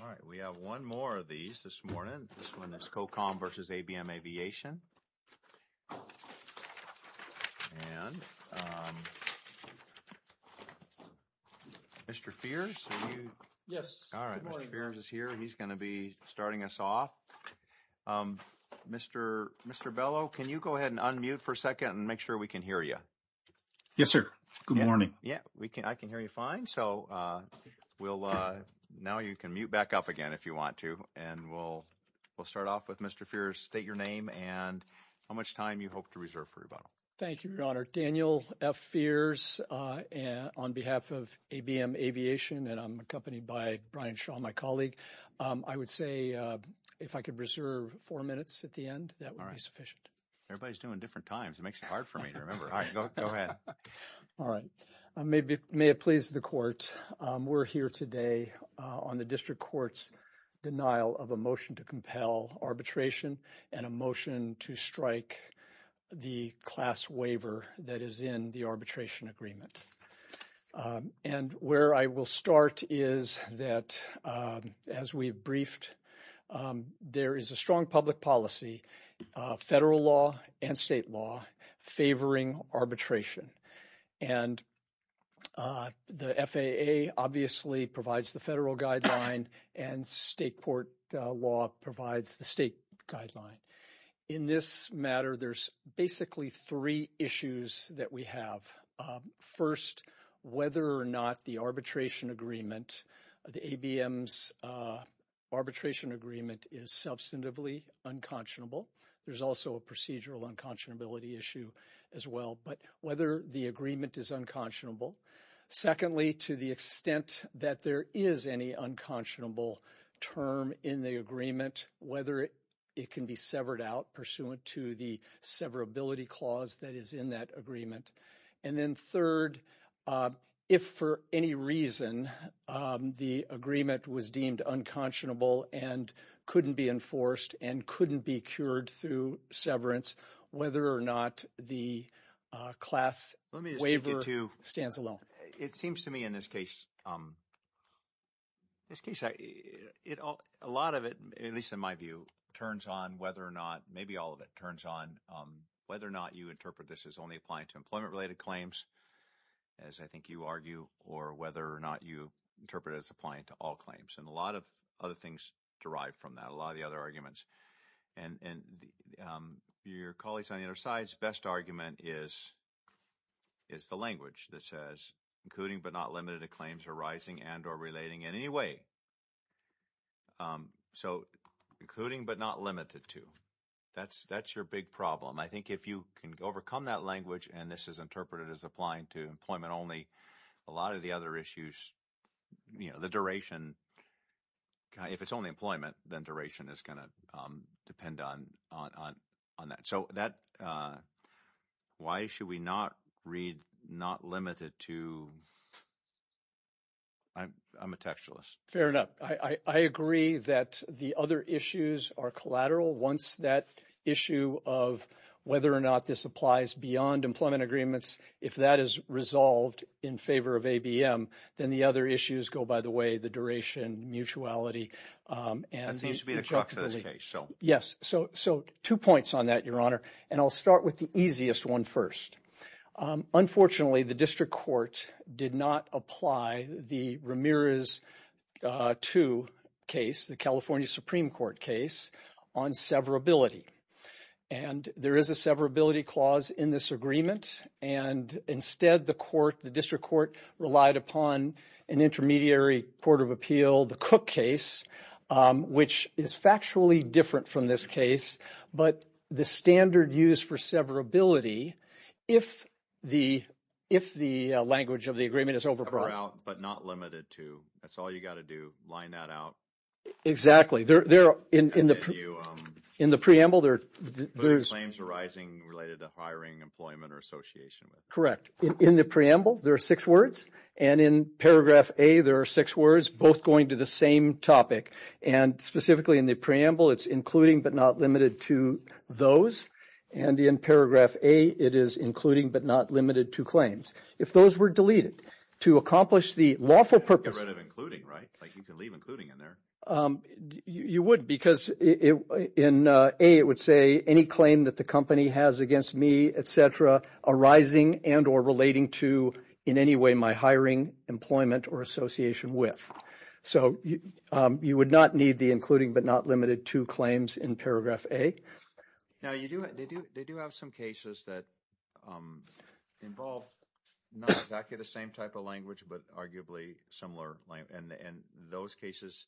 All right, we have 1 more of these this morning. This 1 is Cocom v. ABM Aviation. And, um. Mr. Fierce, are you? Yes. All right. Mr. Fierce is here. He's going to be starting us off. Um, Mr. Mr. Bellow, can you go ahead and unmute for a 2nd and make sure we can hear you? Yes, sir. Good morning. Yeah, we can. I can hear you fine. So, uh, we'll, uh, now you can mute back up again if you want to, and we'll, we'll start off with Mr. Fierce. State your name and how much time you hope to reserve for rebuttal. Thank you, Your Honor. Daniel F. Fierce, uh, on behalf of ABM Aviation, and I'm accompanied by Brian Shaw, my colleague, um, I would say, uh, if I could reserve 4 minutes at the end, that would be sufficient. Everybody's doing different times. It makes it hard for me to remember. All right, go ahead. All right. May it please the Court. Um, we're here today, uh, on the District Court's denial of a motion to compel arbitration and a motion to strike the class waiver that is in the arbitration agreement. Um, and where I will start is that, um, as we briefed, um, there is a strong public policy, uh, federal law and state law favoring arbitration. And, uh, the FAA obviously provides the federal guideline and state court law provides the state guideline. In this matter, there's basically three issues that we have. Um, first, whether or not the arbitration agreement, the ABM's, uh, arbitration agreement is substantively unconscionable. There's also a procedural unconscionability issue as well, but whether the agreement is unconscionable. Secondly, to the extent that there is any unconscionable term in the agreement, whether it, it can be severed out pursuant to the severability clause that is in that agreement. And then third, uh, if for any reason, um, the agreement was deemed unconscionable and couldn't be enforced and couldn't be cured through severance, whether or not the, uh, class. Waiver stands alone. It seems to me in this case, um, this case, a lot of it, at least in my view, turns on whether or not, maybe all of it turns on, um, whether or not you interpret this as only applying to employment related claims, as I think you argue, or whether or not you interpret it as applying to all claims and a lot of other things derived from that. And, and, um, your colleagues on the other side's best argument is, is the language that says including but not limited to claims arising and or relating in any way. Um, so including but not limited to, that's, that's your big problem. I think if you can overcome that language and this is interpreted as applying to employment only, a lot of the other issues, you know, the duration, if it's only employment, then duration is going to, um, depend on, on, on, on that. So that, uh, why should we not read not limited to, I'm, I'm a textualist. Fair enough. I, I, I agree that the other issues are collateral. Once that issue of whether or not this applies beyond employment agreements, if that is resolved in favor of ABM, then the other issues go by the way, the duration, mutuality, um, and. Yes. So, so two points on that, Your Honor. And I'll start with the easiest one first. Um, unfortunately, the district court did not apply the Ramirez, uh, to case the California Supreme Court case on severability. And there is a severability clause in this agreement. And instead, the court, the district court relied upon an intermediary court of appeal, the Cook case, um, which is factually different from this case, but the standard use for severability, if the, if the language of the agreement is over. But not limited to, that's all you got to do. Line that out. Exactly. They're, they're in, in the, in the preamble there, there's claims arising related to hiring employment or association. Correct. In the preamble, there are six words. And in paragraph a, there are six words, both going to the same topic. And specifically in the preamble, it's including, but not limited to those. And in paragraph a, it is including, but not limited to claims. If those were deleted, to accomplish the lawful purpose of including, right? Like you can leave including in there. Um, you would because it, in a, it would say any claim that the company has against me, et cetera, arising and or relating to, in any way, my hiring, employment or association with. So, um, you would not need the including, but not limited to claims in paragraph a. Now, you do, they do, they do have some cases that, um, involve not exactly the same type of language, but arguably similar language. And in those cases,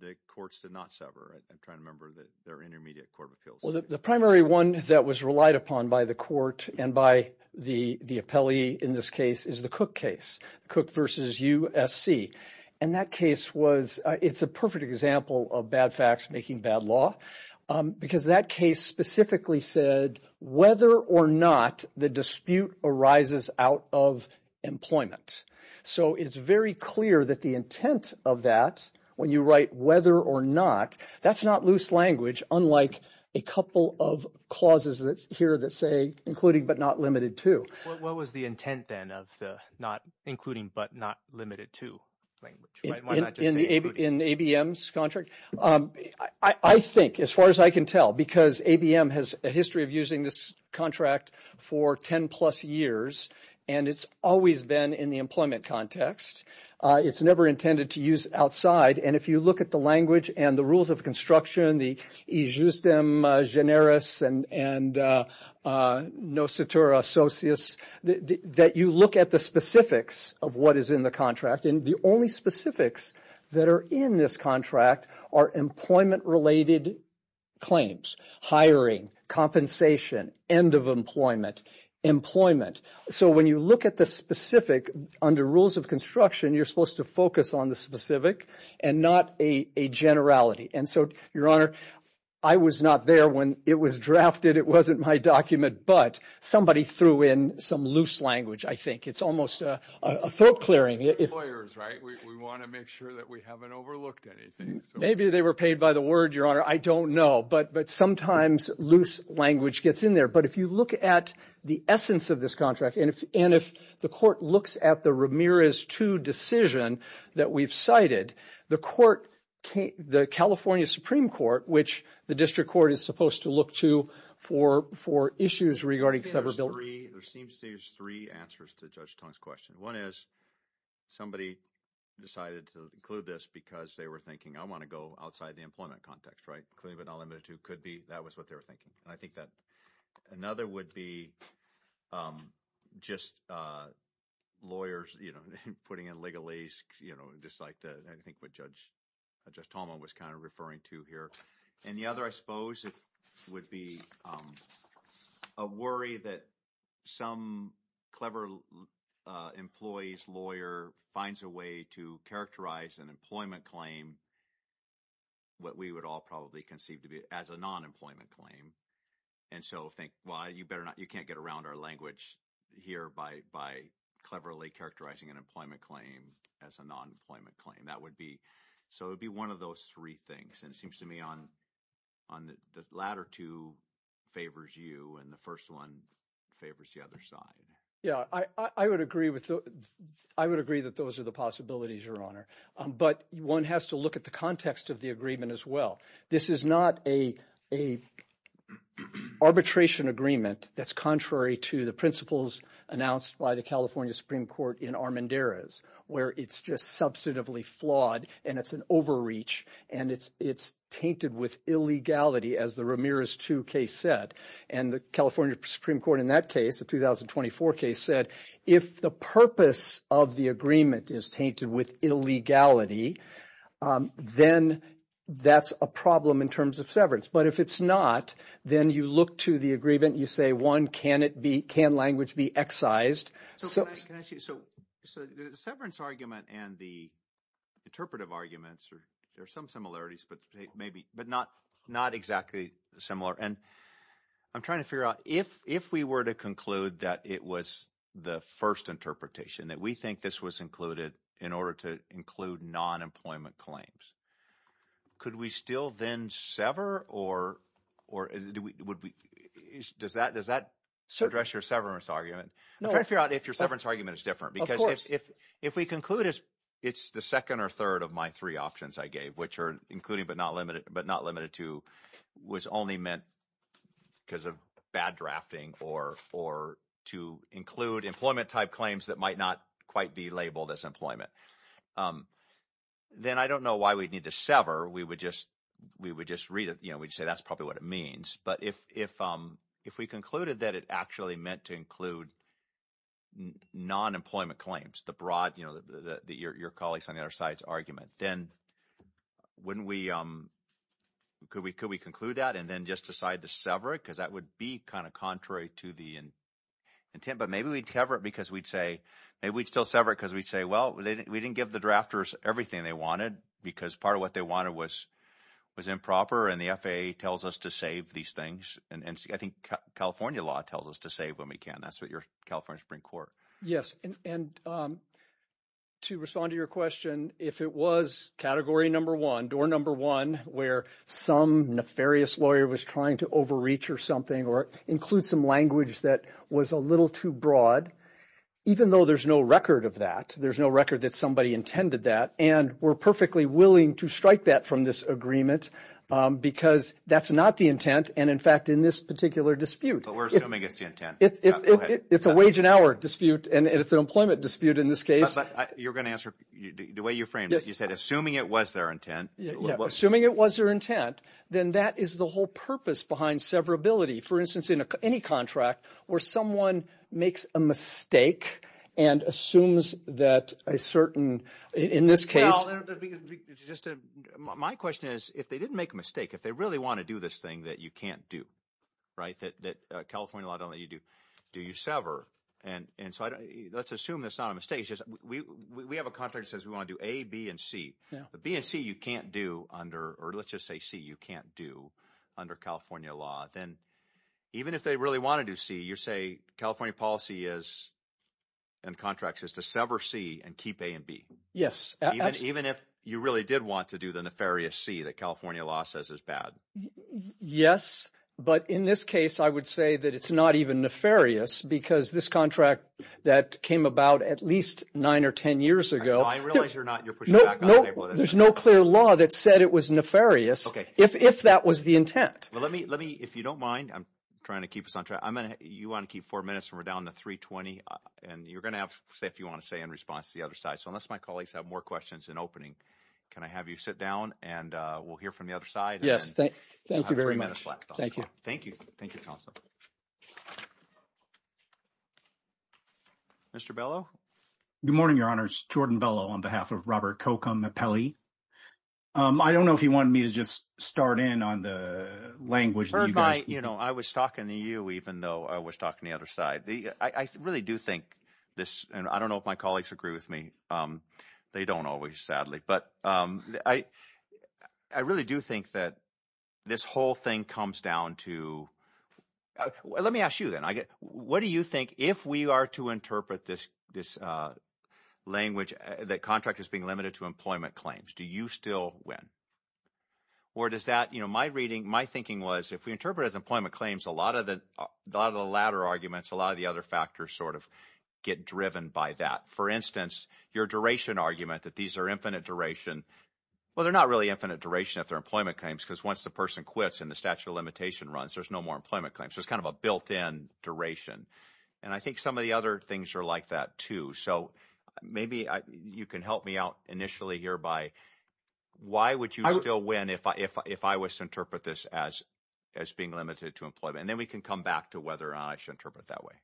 the courts did not sever. I'm trying to remember their intermediate court of appeals. Well, the primary one that was relied upon by the court and by the, the appellee in this case is the Cook case. Cook versus USC. And that case was, it's a perfect example of bad facts making bad law. Um, because that case specifically said whether or not the dispute arises out of employment. So it's very clear that the intent of that, when you write whether or not, that's not loose language, unlike a couple of clauses that's here that say including, but not limited to. What was the intent then of the not including, but not limited to language? Why not just say including? That you look at the specifics of what is in the contract. And the only specifics that are in this contract are employment related claims, hiring, compensation, end of employment, employment. So when you look at the specific under rules of construction, you're supposed to focus on the specific and not a generality. And so, Your Honor, I was not there when it was drafted. It wasn't my document, but somebody threw in some loose language. I think it's almost a throat clearing. We want to make sure that we haven't overlooked anything. Maybe they were paid by the word, Your Honor. I don't know. But sometimes loose language gets in there. But if you look at the essence of this contract, and if the court looks at the Ramirez 2 decision that we've cited, the court, the California Supreme Court, which the district court is supposed to look to for issues regarding severability. There seems to be three answers to Judge Tong's question. One is, somebody decided to include this because they were thinking, I want to go outside the employment context, right? Including, but not limited to could be, that was what they were thinking. And I think that another would be just lawyers, you know, putting in legalese, you know, just like I think what Judge Tomlin was kind of referring to here. And the other, I suppose, would be a worry that some clever employee's lawyer finds a way to characterize an employment claim, what we would all probably conceive to be as a non-employment claim. And so think, well, you better not – you can't get around our language here by cleverly characterizing an employment claim as a non-employment claim. That would be – so it would be one of those three things. And it seems to me on the latter two favors you and the first one favors the other side. Yeah, I would agree with – I would agree that those are the possibilities, Your Honor. But one has to look at the context of the agreement as well. This is not a arbitration agreement that's contrary to the principles announced by the California Supreme Court in Armendariz where it's just substantively flawed and it's an overreach. And it's tainted with illegality as the Ramirez II case said. And the California Supreme Court in that case, the 2024 case, said if the purpose of the agreement is tainted with illegality, then that's a problem in terms of severance. But if it's not, then you look to the agreement. You say, one, can it be – can language be excised? So can I ask you – so the severance argument and the interpretive arguments are – there are some similarities but maybe – but not exactly similar. And I'm trying to figure out if we were to conclude that it was the first interpretation, that we think this was included in order to include non-employment claims, could we still then sever or would we – does that address your severance argument? I'm trying to figure out if your severance argument is different because if we conclude it's the second or third of my three options I gave, which are including but not limited to was only meant because of bad drafting or to include employment-type claims that might not quite be labeled as employment, then I don't know why we'd need to sever. We would just read it. We'd say that's probably what it means. But if we concluded that it actually meant to include non-employment claims, the broad – your colleagues on the other side's argument, then wouldn't we – could we conclude that and then just decide to sever it? Because that would be kind of contrary to the intent. But maybe we'd sever it because we'd say – maybe we'd still sever it because we'd say, well, we didn't give the drafters everything they wanted because part of what they wanted was improper and the FAA tells us to save these things. And I think California law tells us to save when we can. That's what your – California Supreme Court. Yes, and to respond to your question, if it was category number one, door number one, where some nefarious lawyer was trying to overreach or something or include some language that was a little too broad, even though there's no record of that, there's no record that somebody intended that, and we're perfectly willing to strike that from this agreement because that's not the intent. And in fact, in this particular dispute – But we're assuming it's the intent. It's a wage and hour dispute, and it's an employment dispute in this case. You're going to answer – the way you framed it, you said assuming it was their intent. Yeah, assuming it was their intent, then that is the whole purpose behind severability. For instance, in any contract where someone makes a mistake and assumes that a certain – in this case – My question is if they didn't make a mistake, if they really want to do this thing that you can't do, right, that California law doesn't let you do, do you sever? And so let's assume that's not a mistake. It's just we have a contract that says we want to do A, B, and C. But B and C you can't do under – or let's just say C you can't do under California law. Then even if they really want to do C, you say California policy is – and contracts is to sever C and keep A and B. Yes. Even if you really did want to do the nefarious C that California law says is bad. Yes, but in this case, I would say that it's not even nefarious because this contract that came about at least nine or ten years ago – I realize you're not – you're putting it back on the table. There's no clear law that said it was nefarious if that was the intent. Well, let me – if you don't mind, I'm trying to keep us on track. You want to keep four minutes, and we're down to 3.20, and you're going to have to say if you want to say in response to the other side. So unless my colleagues have more questions in opening, can I have you sit down, and we'll hear from the other side. Thank you very much. Thank you. Thank you. Thank you, counsel. Mr. Bellow? Good morning, Your Honors. Jordan Bellow on behalf of Robert Kocum of Pelley. I don't know if you wanted me to just start in on the language that you guys – Heard my – I was talking to you even though I was talking to the other side. I really do think this – and I don't know if my colleagues agree with me. They don't always, sadly. But I really do think that this whole thing comes down to – let me ask you then. What do you think if we are to interpret this language that contract is being limited to employment claims, do you still win? Or does that – my reading – my thinking was if we interpret it as employment claims, a lot of the latter arguments, a lot of the other factors sort of get driven by that. For instance, your duration argument that these are infinite duration. Well, they're not really infinite duration if they're employment claims because once the person quits and the statute of limitation runs, there's no more employment claims. There's kind of a built-in duration. And I think some of the other things are like that too. So maybe you can help me out initially here by why would you still win if I was to interpret this as being limited to employment? And then we can come back to whether I should interpret it that way.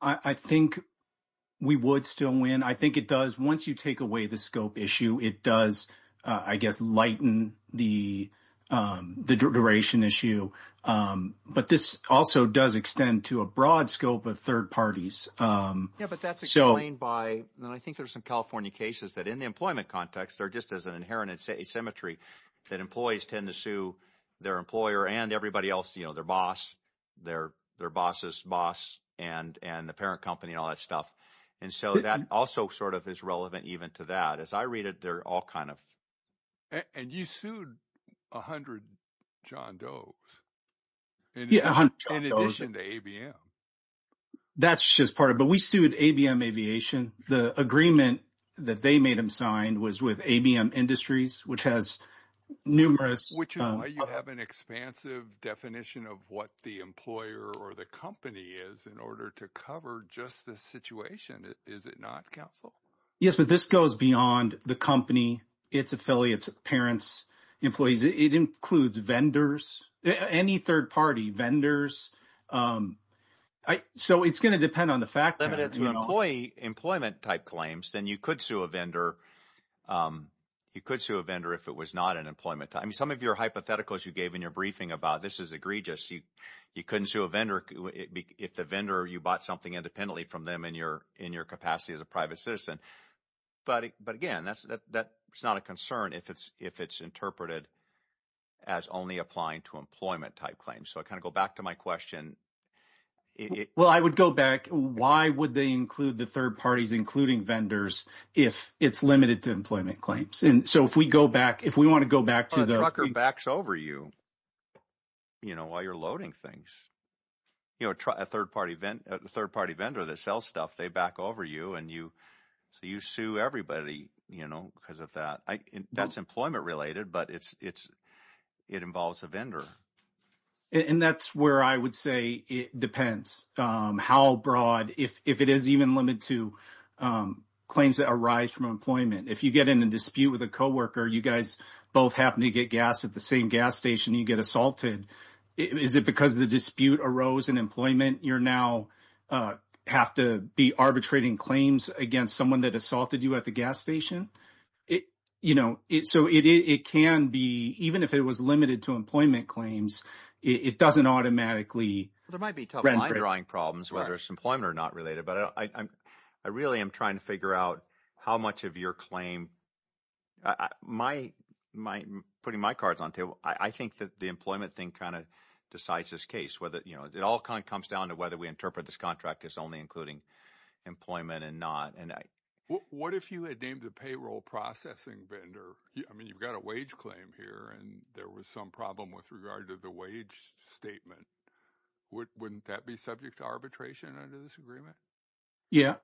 I think we would still win. I think it does – once you take away the scope issue, it does, I guess, lighten the duration issue. But this also does extend to a broad scope of third parties. Yeah, but that's explained by – and I think there's some California cases that in the employment context, they're just as an inherent asymmetry that employees tend to sue their employer and everybody else, their boss, their boss's boss, and the parent company and all that stuff. And so that also sort of is relevant even to that. As I read it, they're all kind of – And you sued 100 John Doe's in addition to ABM. That's just part of it. But we sued ABM Aviation. The agreement that they made them sign was with ABM Industries, which has numerous – Which is why you have an expansive definition of what the employer or the company is in order to cover just this situation, is it not, counsel? Yes, but this goes beyond the company, its affiliates, parents, employees. It includes vendors, any third party, vendors. So it's going to depend on the fact that – If you employ employment-type claims, then you could sue a vendor. You could sue a vendor if it was not an employment type. Some of your hypotheticals you gave in your briefing about this is egregious, you couldn't sue a vendor if the vendor – you bought something independently from them in your capacity as a private citizen. But again, that's not a concern if it's interpreted as only applying to employment-type claims. So I kind of go back to my question. Well, I would go back. Why would they include the third parties, including vendors, if it's limited to employment claims? And so if we go back – if we want to go back to the – A trucker backs over you while you're loading things. A third-party vendor that sells stuff, they back over you, and so you sue everybody because of that. That's employment-related, but it involves a vendor. And that's where I would say it depends how broad – if it is even limited to claims that arise from employment. If you get in a dispute with a coworker, you guys both happen to get gas at the same gas station, you get assaulted. Is it because the dispute arose in employment, you now have to be arbitrating claims against someone that assaulted you at the gas station? So it can be – even if it was limited to employment claims, it doesn't automatically – There might be tough line-drawing problems, whether it's employment or not related. But I really am trying to figure out how much of your claim – putting my cards on the table, I think that the employment thing kind of decides this case. It all kind of comes down to whether we interpret this contract as only including employment and not. What if you had named the payroll processing vendor? I mean you've got a wage claim here, and there was some problem with regard to the wage statement. Wouldn't that be subject to arbitration under this agreement? Yeah.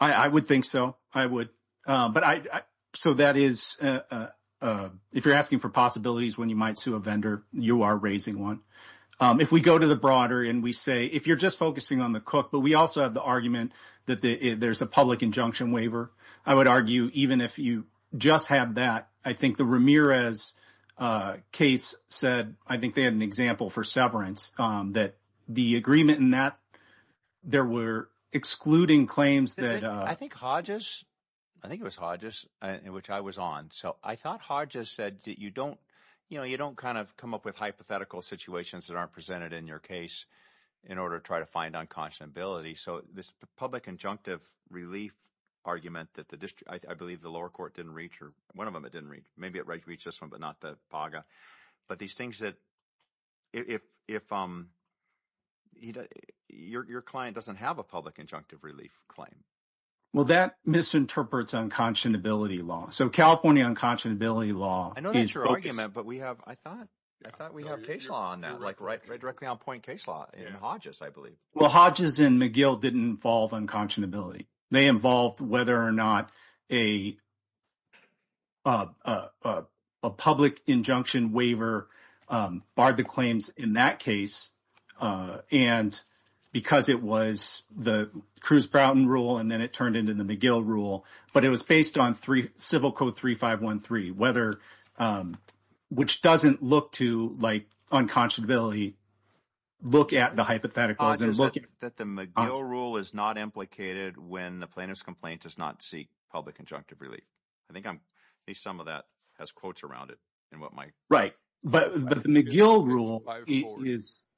I would think so. I would. But I – so that is – if you're asking for possibilities when you might sue a vendor, you are raising one. If we go to the broader and we say – if you're just focusing on the cook, but we also have the argument that there's a public injunction waiver. I would argue even if you just have that, I think the Ramirez case said – I think they had an example for severance that the agreement in that, there were excluding claims that – I think it was Hodges, which I was on. So I thought Hodges said that you don't kind of come up with hypothetical situations that aren't presented in your case in order to try to find unconscionability. So this public injunctive relief argument that the – I believe the lower court didn't reach or – one of them it didn't reach. Maybe it reached this one but not the PAGA. But these things that – if your client doesn't have a public injunctive relief claim. Well, that misinterprets unconscionability law. So California unconscionability law is focused. I know that's your argument, but we have – I thought we have case law on that, like right directly on point case law in Hodges I believe. Well, Hodges and McGill didn't involve unconscionability. They involved whether or not a public injunction waiver barred the claims in that case and because it was the Cruz-Brown rule and then it turned into the McGill rule. But it was based on Civil Code 3513, whether – which doesn't look to like unconscionability, look at the hypotheticals and look at – when the plaintiff's complaint does not seek public injunctive relief. I think I'm – at least some of that has quotes around it and what might – Right, but the McGill rule is –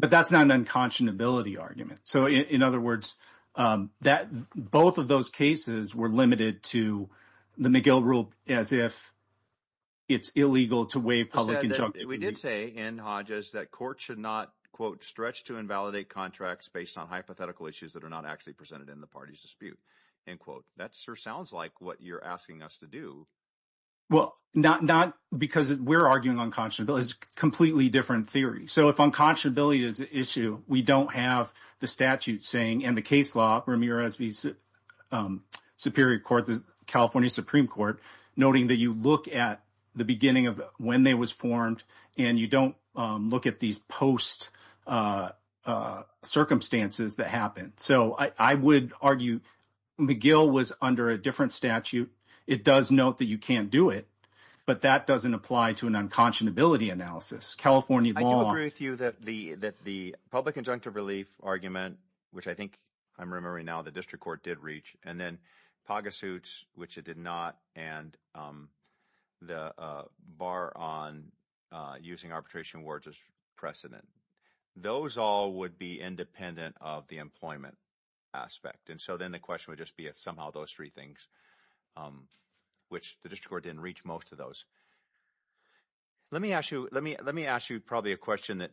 but that's not an unconscionability argument. So in other words, that – both of those cases were limited to the McGill rule as if it's illegal to waive public injunctive relief. We did say in Hodges that courts should not, quote, stretch to invalidate contracts based on hypothetical issues that are not actually presented in the party's dispute, end quote. That sure sounds like what you're asking us to do. Well, not because we're arguing unconscionability. It's a completely different theory. So if unconscionability is an issue, we don't have the statute saying and the case law, Ramirez v. Superior Court, the California Supreme Court, noting that you look at the beginning of when they was formed and you don't look at these post circumstances that happened. So I would argue McGill was under a different statute. It does note that you can't do it, but that doesn't apply to an unconscionability analysis. I do agree with you that the public injunctive relief argument, which I think I'm remembering now the district court did reach, and then Paga suits, which it did not, and the bar on using arbitration words as precedent, those all would be independent of the employment aspect. And so then the question would just be if somehow those three things, which the district court didn't reach most of those. Let me ask you let me let me ask you probably a question that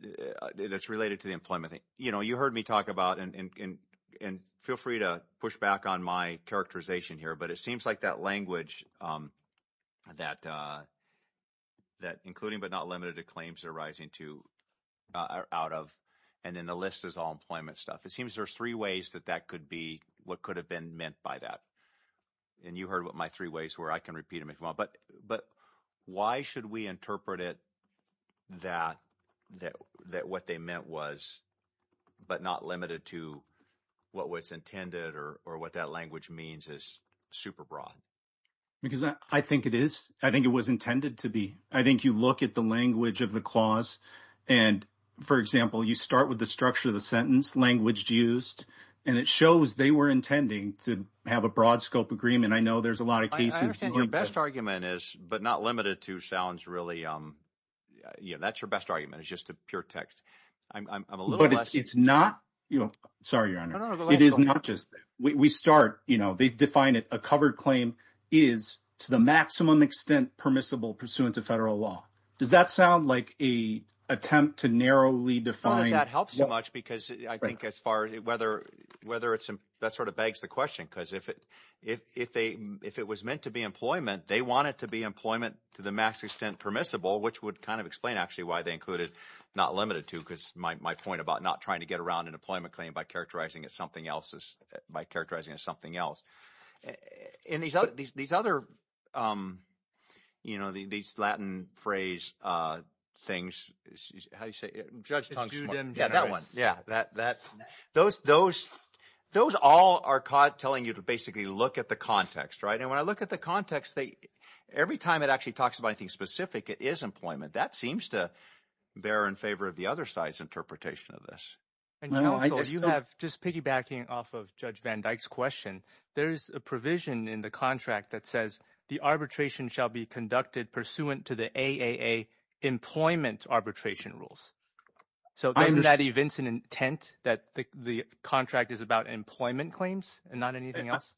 that's related to the employment thing. You know, you heard me talk about and feel free to push back on my characterization here, but it seems like that language that that including but not limited to claims are rising to out of. And then the list is all employment stuff. It seems there's three ways that that could be what could have been meant by that. And you heard what my three ways where I can repeat it. But but why should we interpret it that that that what they meant was but not limited to what was intended or or what that language means is super broad. Because I think it is. I think it was intended to be. I think you look at the language of the clause. And, for example, you start with the structure of the sentence language used, and it shows they were intending to have a broad scope agreement. I know there's a lot of cases in your best argument is but not limited to sounds really. Yeah, that's your best argument is just a pure text. But it's not, you know, sorry, your honor. It is not just we start, you know, they define it. A covered claim is to the maximum extent permissible pursuant to federal law. Does that sound like a attempt to narrowly define that helps so much? Because I think as far as whether whether it's that sort of begs the question, because if it if they if it was meant to be employment, they want it to be employment to the max extent permissible, which would kind of explain, actually, why they included not limited to. Because my point about not trying to get around an employment claim by characterizing it, something else is by characterizing it, something else in these other these other, you know, these Latin phrase things. How you say judge? Yeah, that that those those those all are caught telling you to basically look at the context. Right. And when I look at the context, they every time it actually talks about anything specific, it is employment. That seems to bear in favor of the other side's interpretation of this. And, you know, you have just piggybacking off of Judge Van Dyke's question. There is a provision in the contract that says the arbitration shall be conducted pursuant to the employment arbitration rules. So in that event, an intent that the contract is about employment claims and not anything else.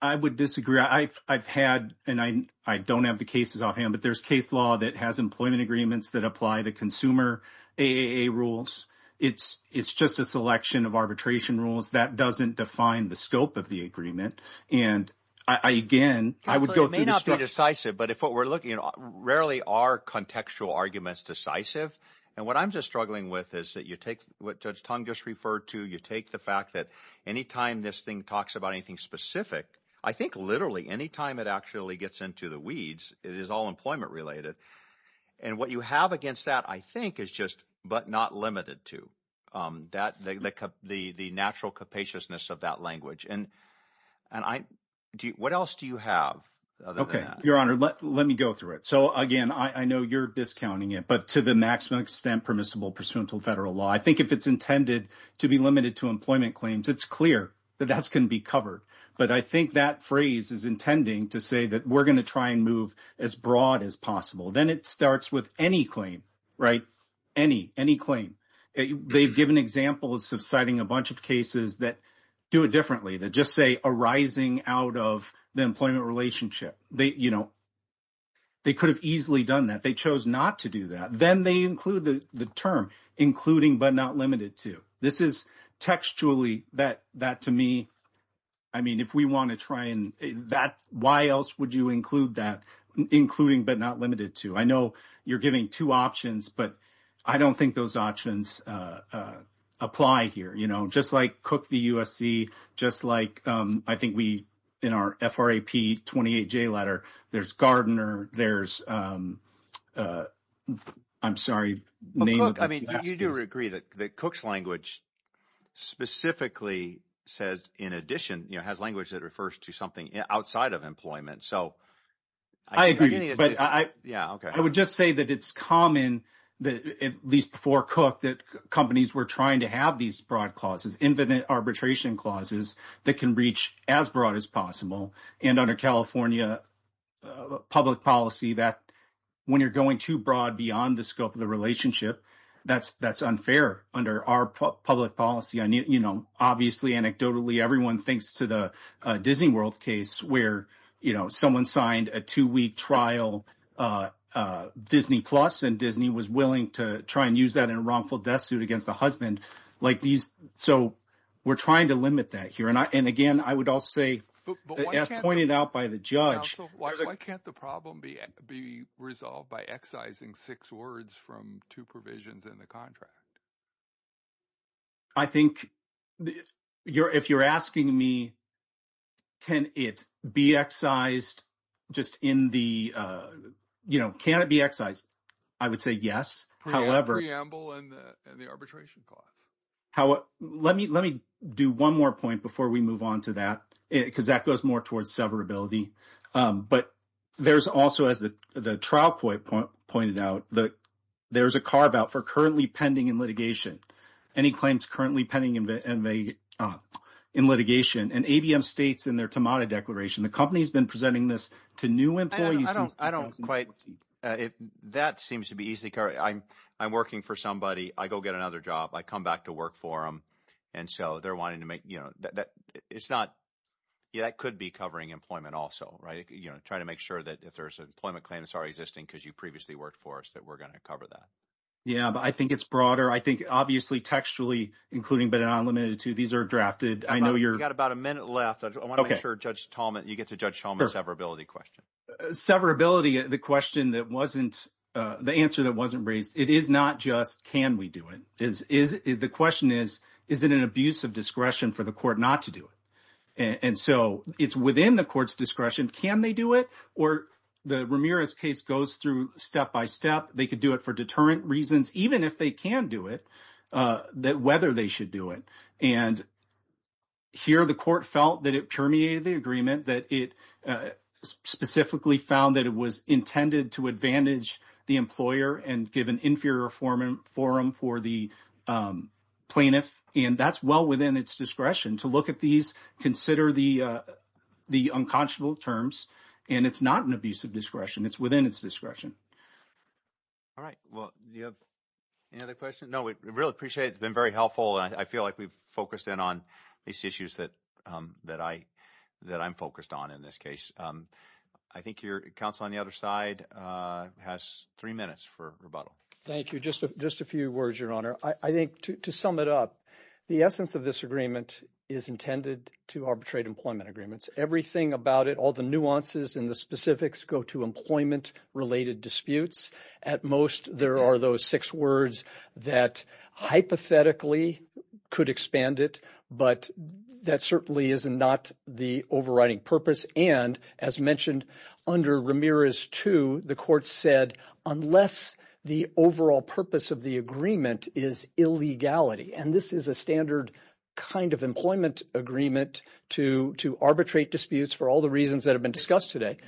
I would disagree. I've had and I don't have the cases off hand, but there's case law that has employment agreements that apply the consumer rules. It's it's just a selection of arbitration rules that doesn't define the scope of the agreement. And I, again, I would go to be decisive. But if what we're looking at rarely are contextual arguments decisive. And what I'm just struggling with is that you take what Judge Tong just referred to. You take the fact that any time this thing talks about anything specific, I think literally any time it actually gets into the weeds, it is all employment related. And what you have against that, I think, is just but not limited to that, the the natural capaciousness of that language. And and I do. What else do you have? OK, Your Honor, let let me go through it. So, again, I know you're discounting it, but to the maximum extent permissible pursuant to federal law, I think if it's intended to be limited to employment claims, it's clear that that's going to be covered. But I think that phrase is intending to say that we're going to try and move as broad as possible. Then it starts with any claim. Right. Any any claim. They've given examples of citing a bunch of cases that do it differently that just say arising out of the employment relationship. They you know. They could have easily done that. They chose not to do that. Then they include the term including but not limited to. This is textually that that to me. I mean, if we want to try and that, why else would you include that, including but not limited to? I know you're giving two options, but I don't think those options apply here. You know, just like Cook, the USC, just like I think we in our F.R.A.P. 28 J letter. There's Gardner. There's I'm sorry. I mean, you do agree that Cook's language specifically says, in addition, has language that refers to something outside of employment. So I agree. But I. Yeah. OK, I would just say that it's common that at least before Cook that companies were trying to have these broad clauses, infinite arbitration clauses that can reach as broad as possible. And under California public policy that when you're going too broad beyond the scope of the relationship, that's that's unfair under our public policy. And, you know, obviously, anecdotally, everyone thinks to the Disney World case where, you know, someone signed a two week trial Disney plus and Disney was willing to try and use that in a wrongful death suit against the husband. Like these. So we're trying to limit that here. And again, I would also say pointed out by the judge. Why can't the problem be be resolved by excising six words from two provisions in the contract? I think you're if you're asking me. Can it be excised just in the you know, can it be excised? I would say yes. However, preamble and the arbitration clause. How let me let me do one more point before we move on to that, because that goes more towards severability. But there's also, as the trial point pointed out that there is a carve out for currently pending in litigation. Any claims currently pending in the NBA in litigation and ABM states in their tomato declaration, the company's been presenting this to new employees. I don't quite if that seems to be easy. I'm I'm working for somebody. I go get another job. I come back to work for them. And so they're wanting to make that it's not that could be covering employment also. Right. You know, try to make sure that if there's an employment claim that's already existing because you previously worked for us, that we're going to cover that. Yeah, I think it's broader. I think obviously textually, including but not limited to these are drafted. I know you've got about a minute left. I want to make sure Judge Tallman, you get to judge Thomas severability question. Severability. The question that wasn't the answer that wasn't raised. It is not just can we do it is is the question is, is it an abuse of discretion for the court not to do it? And so it's within the court's discretion. Can they do it? Or the Ramirez case goes through step by step. They could do it for deterrent reasons, even if they can do it. That whether they should do it and. Here, the court felt that it permeated the agreement that it specifically found that it was intended to advantage the employer and give an inferior form forum for the plaintiff. And that's well within its discretion to look at these consider the the unconscionable terms. And it's not an abuse of discretion. It's within its discretion. All right. Well, you have any other questions? No, we really appreciate it's been very helpful. And I feel like we've focused in on these issues that that I that I'm focused on in this case. I think your counsel on the other side has three minutes for rebuttal. Thank you. Just just a few words, Your Honor. I think to sum it up, the essence of this agreement is intended to arbitrate employment agreements. Everything about it, all the nuances and the specifics go to employment related disputes. At most, there are those six words that hypothetically could expand it. But that certainly is not the overriding purpose. And as mentioned under Ramirez to the court said, unless the overall purpose of the agreement is illegality. And this is a standard kind of employment agreement to to arbitrate disputes for all the reasons that have been discussed today.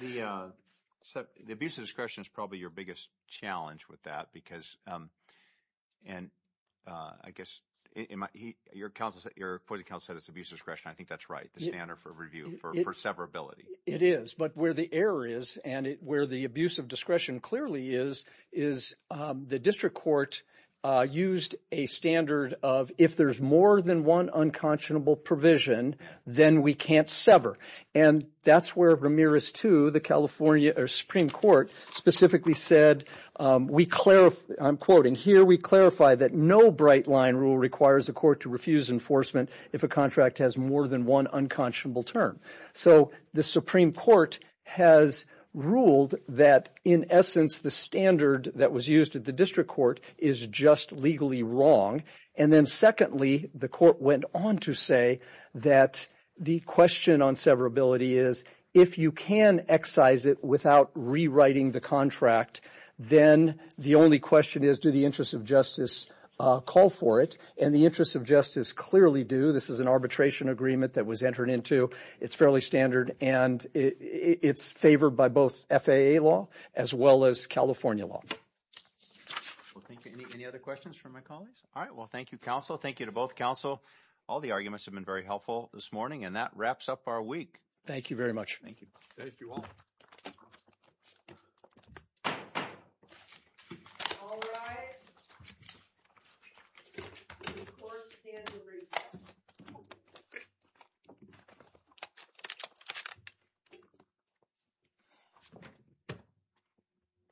So the abuse of discretion is probably your biggest challenge with that, because. And I guess your counsel, your counsel said it's abuse of discretion. I think that's right. The standard for review for severability. It is. But where the error is and where the abuse of discretion clearly is, is the district court used a standard of if there's more than one unconscionable provision, then we can't sever. And that's where Ramirez to the California Supreme Court specifically said, we clarify. I'm quoting here. We clarify that no bright line rule requires a court to refuse enforcement if a contract has more than one unconscionable term. So the Supreme Court has ruled that, in essence, the standard that was used at the district court is just legally wrong. And then secondly, the court went on to say that the question on severability is if you can excise it without rewriting the contract, then the only question is, do the interests of justice call for it? And the interests of justice clearly do. This is an arbitration agreement that was entered into. It's fairly standard and it's favored by both FAA law as well as California law. Any other questions from my colleagues? All right. Well, thank you, counsel. Thank you to both counsel. All the arguments have been very helpful this morning. And that wraps up our week. Thank you very much. Thank you. Thank you all.